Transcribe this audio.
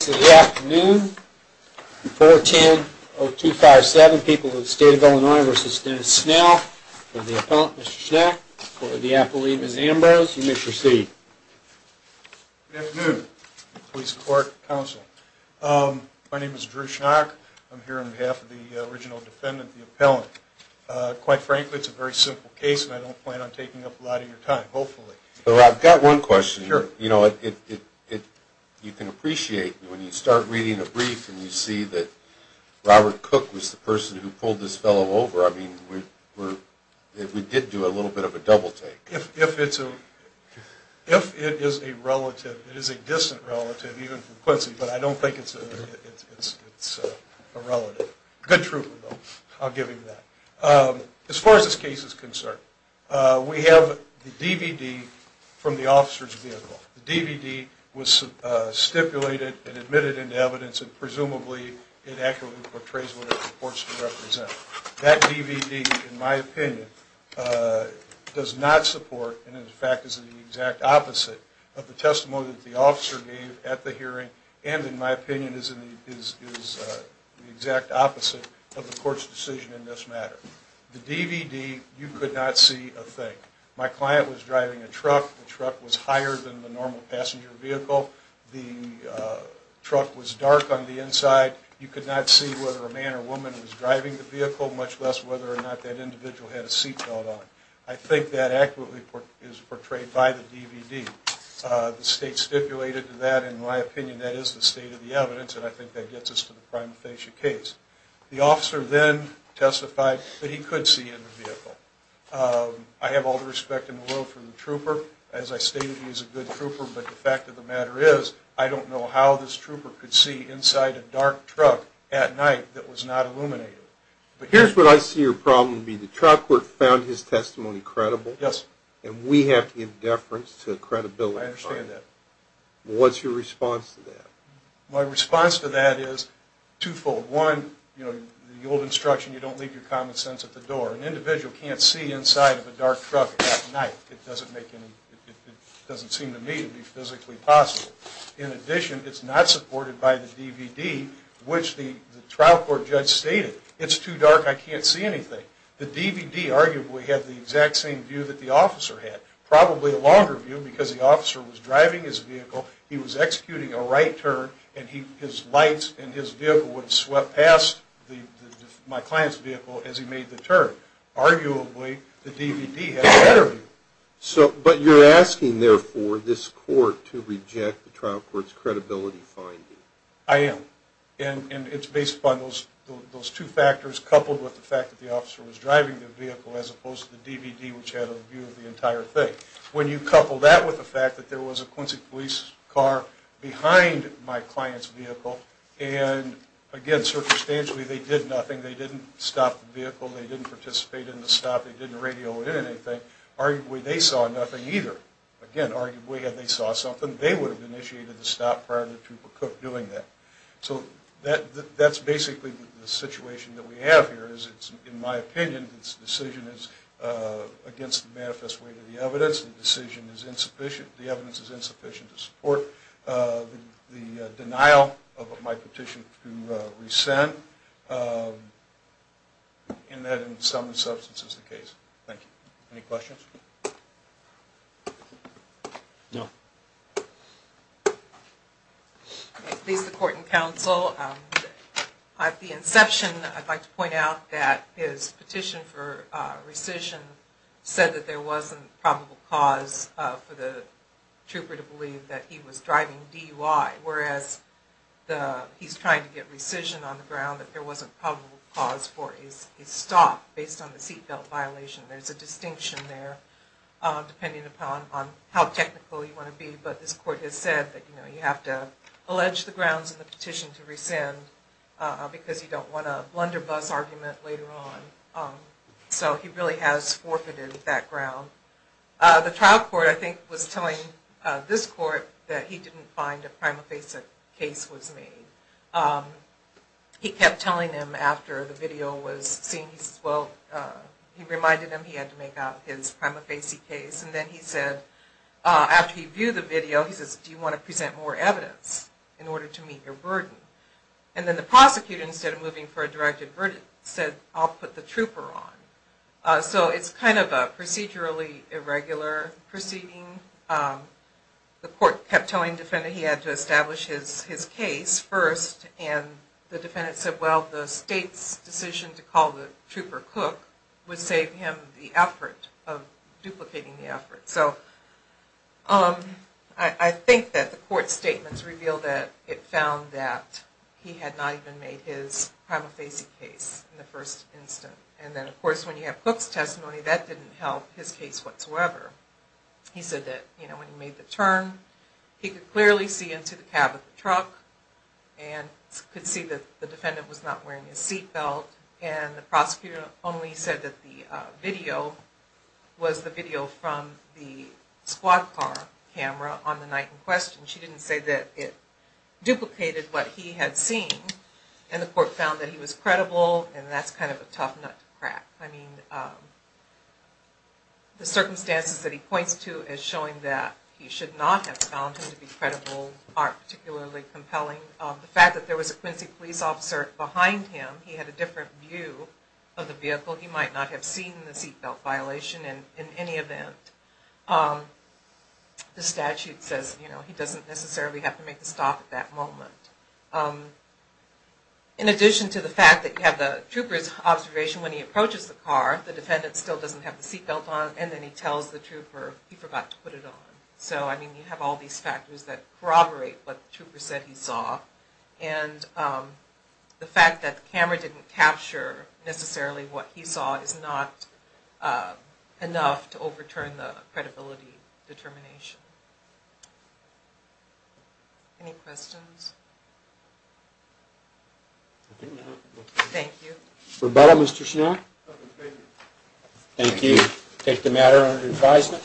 So the afternoon 410-0257, people of the state of Illinois versus Dennis Snell, for the appellant, Mr. Schnack, for the appellee, Ms. Ambrose, you may proceed. Good afternoon, police, court, counsel. My name is Drew Schnack. I'm here on behalf of the original defendant, the appellant. Quite frankly, it's a very simple case, and I don't plan on taking up a lot of your time, hopefully. I've got one question. You know, you can appreciate when you start reading a brief and you see that Robert Cook was the person who pulled this fellow over. I mean, we did do a little bit of a double-take. If it is a relative, it is a distant relative, even from Quincy, but I don't think it's a relative. Good truth, though. I'll give you that. As far as this case is concerned, we have the DVD from the officer's vehicle. The DVD was stipulated and admitted into evidence, and presumably, it accurately portrays what it supports to represent. That DVD, in my opinion, does not support and, in fact, is the exact opposite of the testimony that the officer gave at the hearing and, in my opinion, is the exact opposite of the court's decision in this matter. The DVD, you could not see a thing. My client was driving a truck. The truck was higher than the normal passenger vehicle. The truck was dark on the inside. You could not see whether a man or woman was driving the vehicle, much less whether or not that individual had a seat belt on. I think that accurately is portrayed by the DVD. The state stipulated that. In my opinion, that is the state of the evidence, and I think that gets us to the prima facie case. The officer then testified that he could see in the vehicle. I have all the respect in the world for the trooper. As I stated, he was a good trooper, but the fact of the matter is, I don't know how this trooper could see inside a dark truck at night that was not illuminated. Here's where I see your problem. The trial court found his testimony credible, and we have to give deference to credibility. I understand that. What's your response to that? My response to that is twofold. One, the old instruction, you don't leave your common sense at the door. An individual can't see inside of a dark truck at night. It doesn't seem to me to be physically possible. In addition, it's not supported by the DVD, which the trial court judge stated. It's too dark, I can't see anything. The DVD arguably had the exact same view that the officer had. Probably a longer view, because the officer was driving his vehicle, he was executing a right turn, and his lights and his vehicle would swept past my client's vehicle as he made the turn. Arguably, the DVD had a better view. But you're asking, therefore, this court to reject the trial court's credibility finding. I am. And it's based upon those two factors, coupled with the fact that the officer was driving the vehicle, as opposed to the DVD, which had a view of the entire thing. When you couple that with the fact that there was a Quincy police car behind my client's vehicle, and again, circumstantially, they did nothing. They didn't stop the vehicle. They didn't participate in the stop. They didn't radio in anything. Arguably, they saw nothing either. Again, arguably, had they saw something, they would have initiated the stop prior to the Trooper Cook doing that. So that's basically the situation that we have here, is it's, in my opinion, this decision is against the manifest way to the evidence. The decision is insufficient. The evidence is insufficient to support the denial of my petition to rescind, and that, in some substance, is the case. Thank you. Any questions? No. At least the court and counsel, at the inception, I'd like to point out that his petition for rescission said that there wasn't probable cause for the trooper to believe that he was driving DUI. Whereas, he's trying to get rescission on the ground, that there wasn't probable cause for his stop, based on the seat belt violation. There's a distinction there, depending upon how technical you want to be, but this court has said that you have to allege the grounds in the petition to rescind, because you don't want a blunderbuss argument later on. So he really has forfeited that ground. The trial court, I think, was telling this court that he didn't find a prima facie case was made. He kept telling him after the video was seen, he reminded him he had to make out his prima facie case, and then he said, after he viewed the video, he said, do you want to present more evidence in order to meet your burden? And then the prosecutor, instead of moving for a directed verdict, said, I'll put the trooper on. So it's kind of a procedurally irregular proceeding. The court kept telling the defendant he had to establish his case first, and the defendant said, well, the state's decision to call the trooper Cook would save him the effort of duplicating the effort. So I think that the court statements revealed that it found that he had not even made his prima facie case in the first instance. And then, of course, when you have Cook's testimony, that didn't help his case whatsoever. He said that when he made the turn, he could clearly see into the cab of the truck, and could see that the defendant was not wearing his seat belt. And the prosecutor only said that the video was the video from the squad car camera on the night in question. She didn't say that it duplicated what he had seen. And the court found that he was credible, and that's kind of a tough nut to crack. I mean, the circumstances that he points to as showing that he should not have found him to be credible aren't particularly compelling. The fact that there was a Quincy police officer behind him, he had a different view of the vehicle. He might not have seen the seat belt violation in any event. The statute says he doesn't necessarily have to make the stop at that moment. In addition to the fact that you have the trooper's observation when he approaches the car, the defendant still doesn't have the seat belt on, and then he tells the trooper he forgot to put it on. So, I mean, you have all these factors that corroborate what the trooper said he saw. And the fact that the camera didn't capture necessarily what he saw is not enough to overturn the credibility determination. Any questions? Thank you. Thank you. Take the matter under advisement.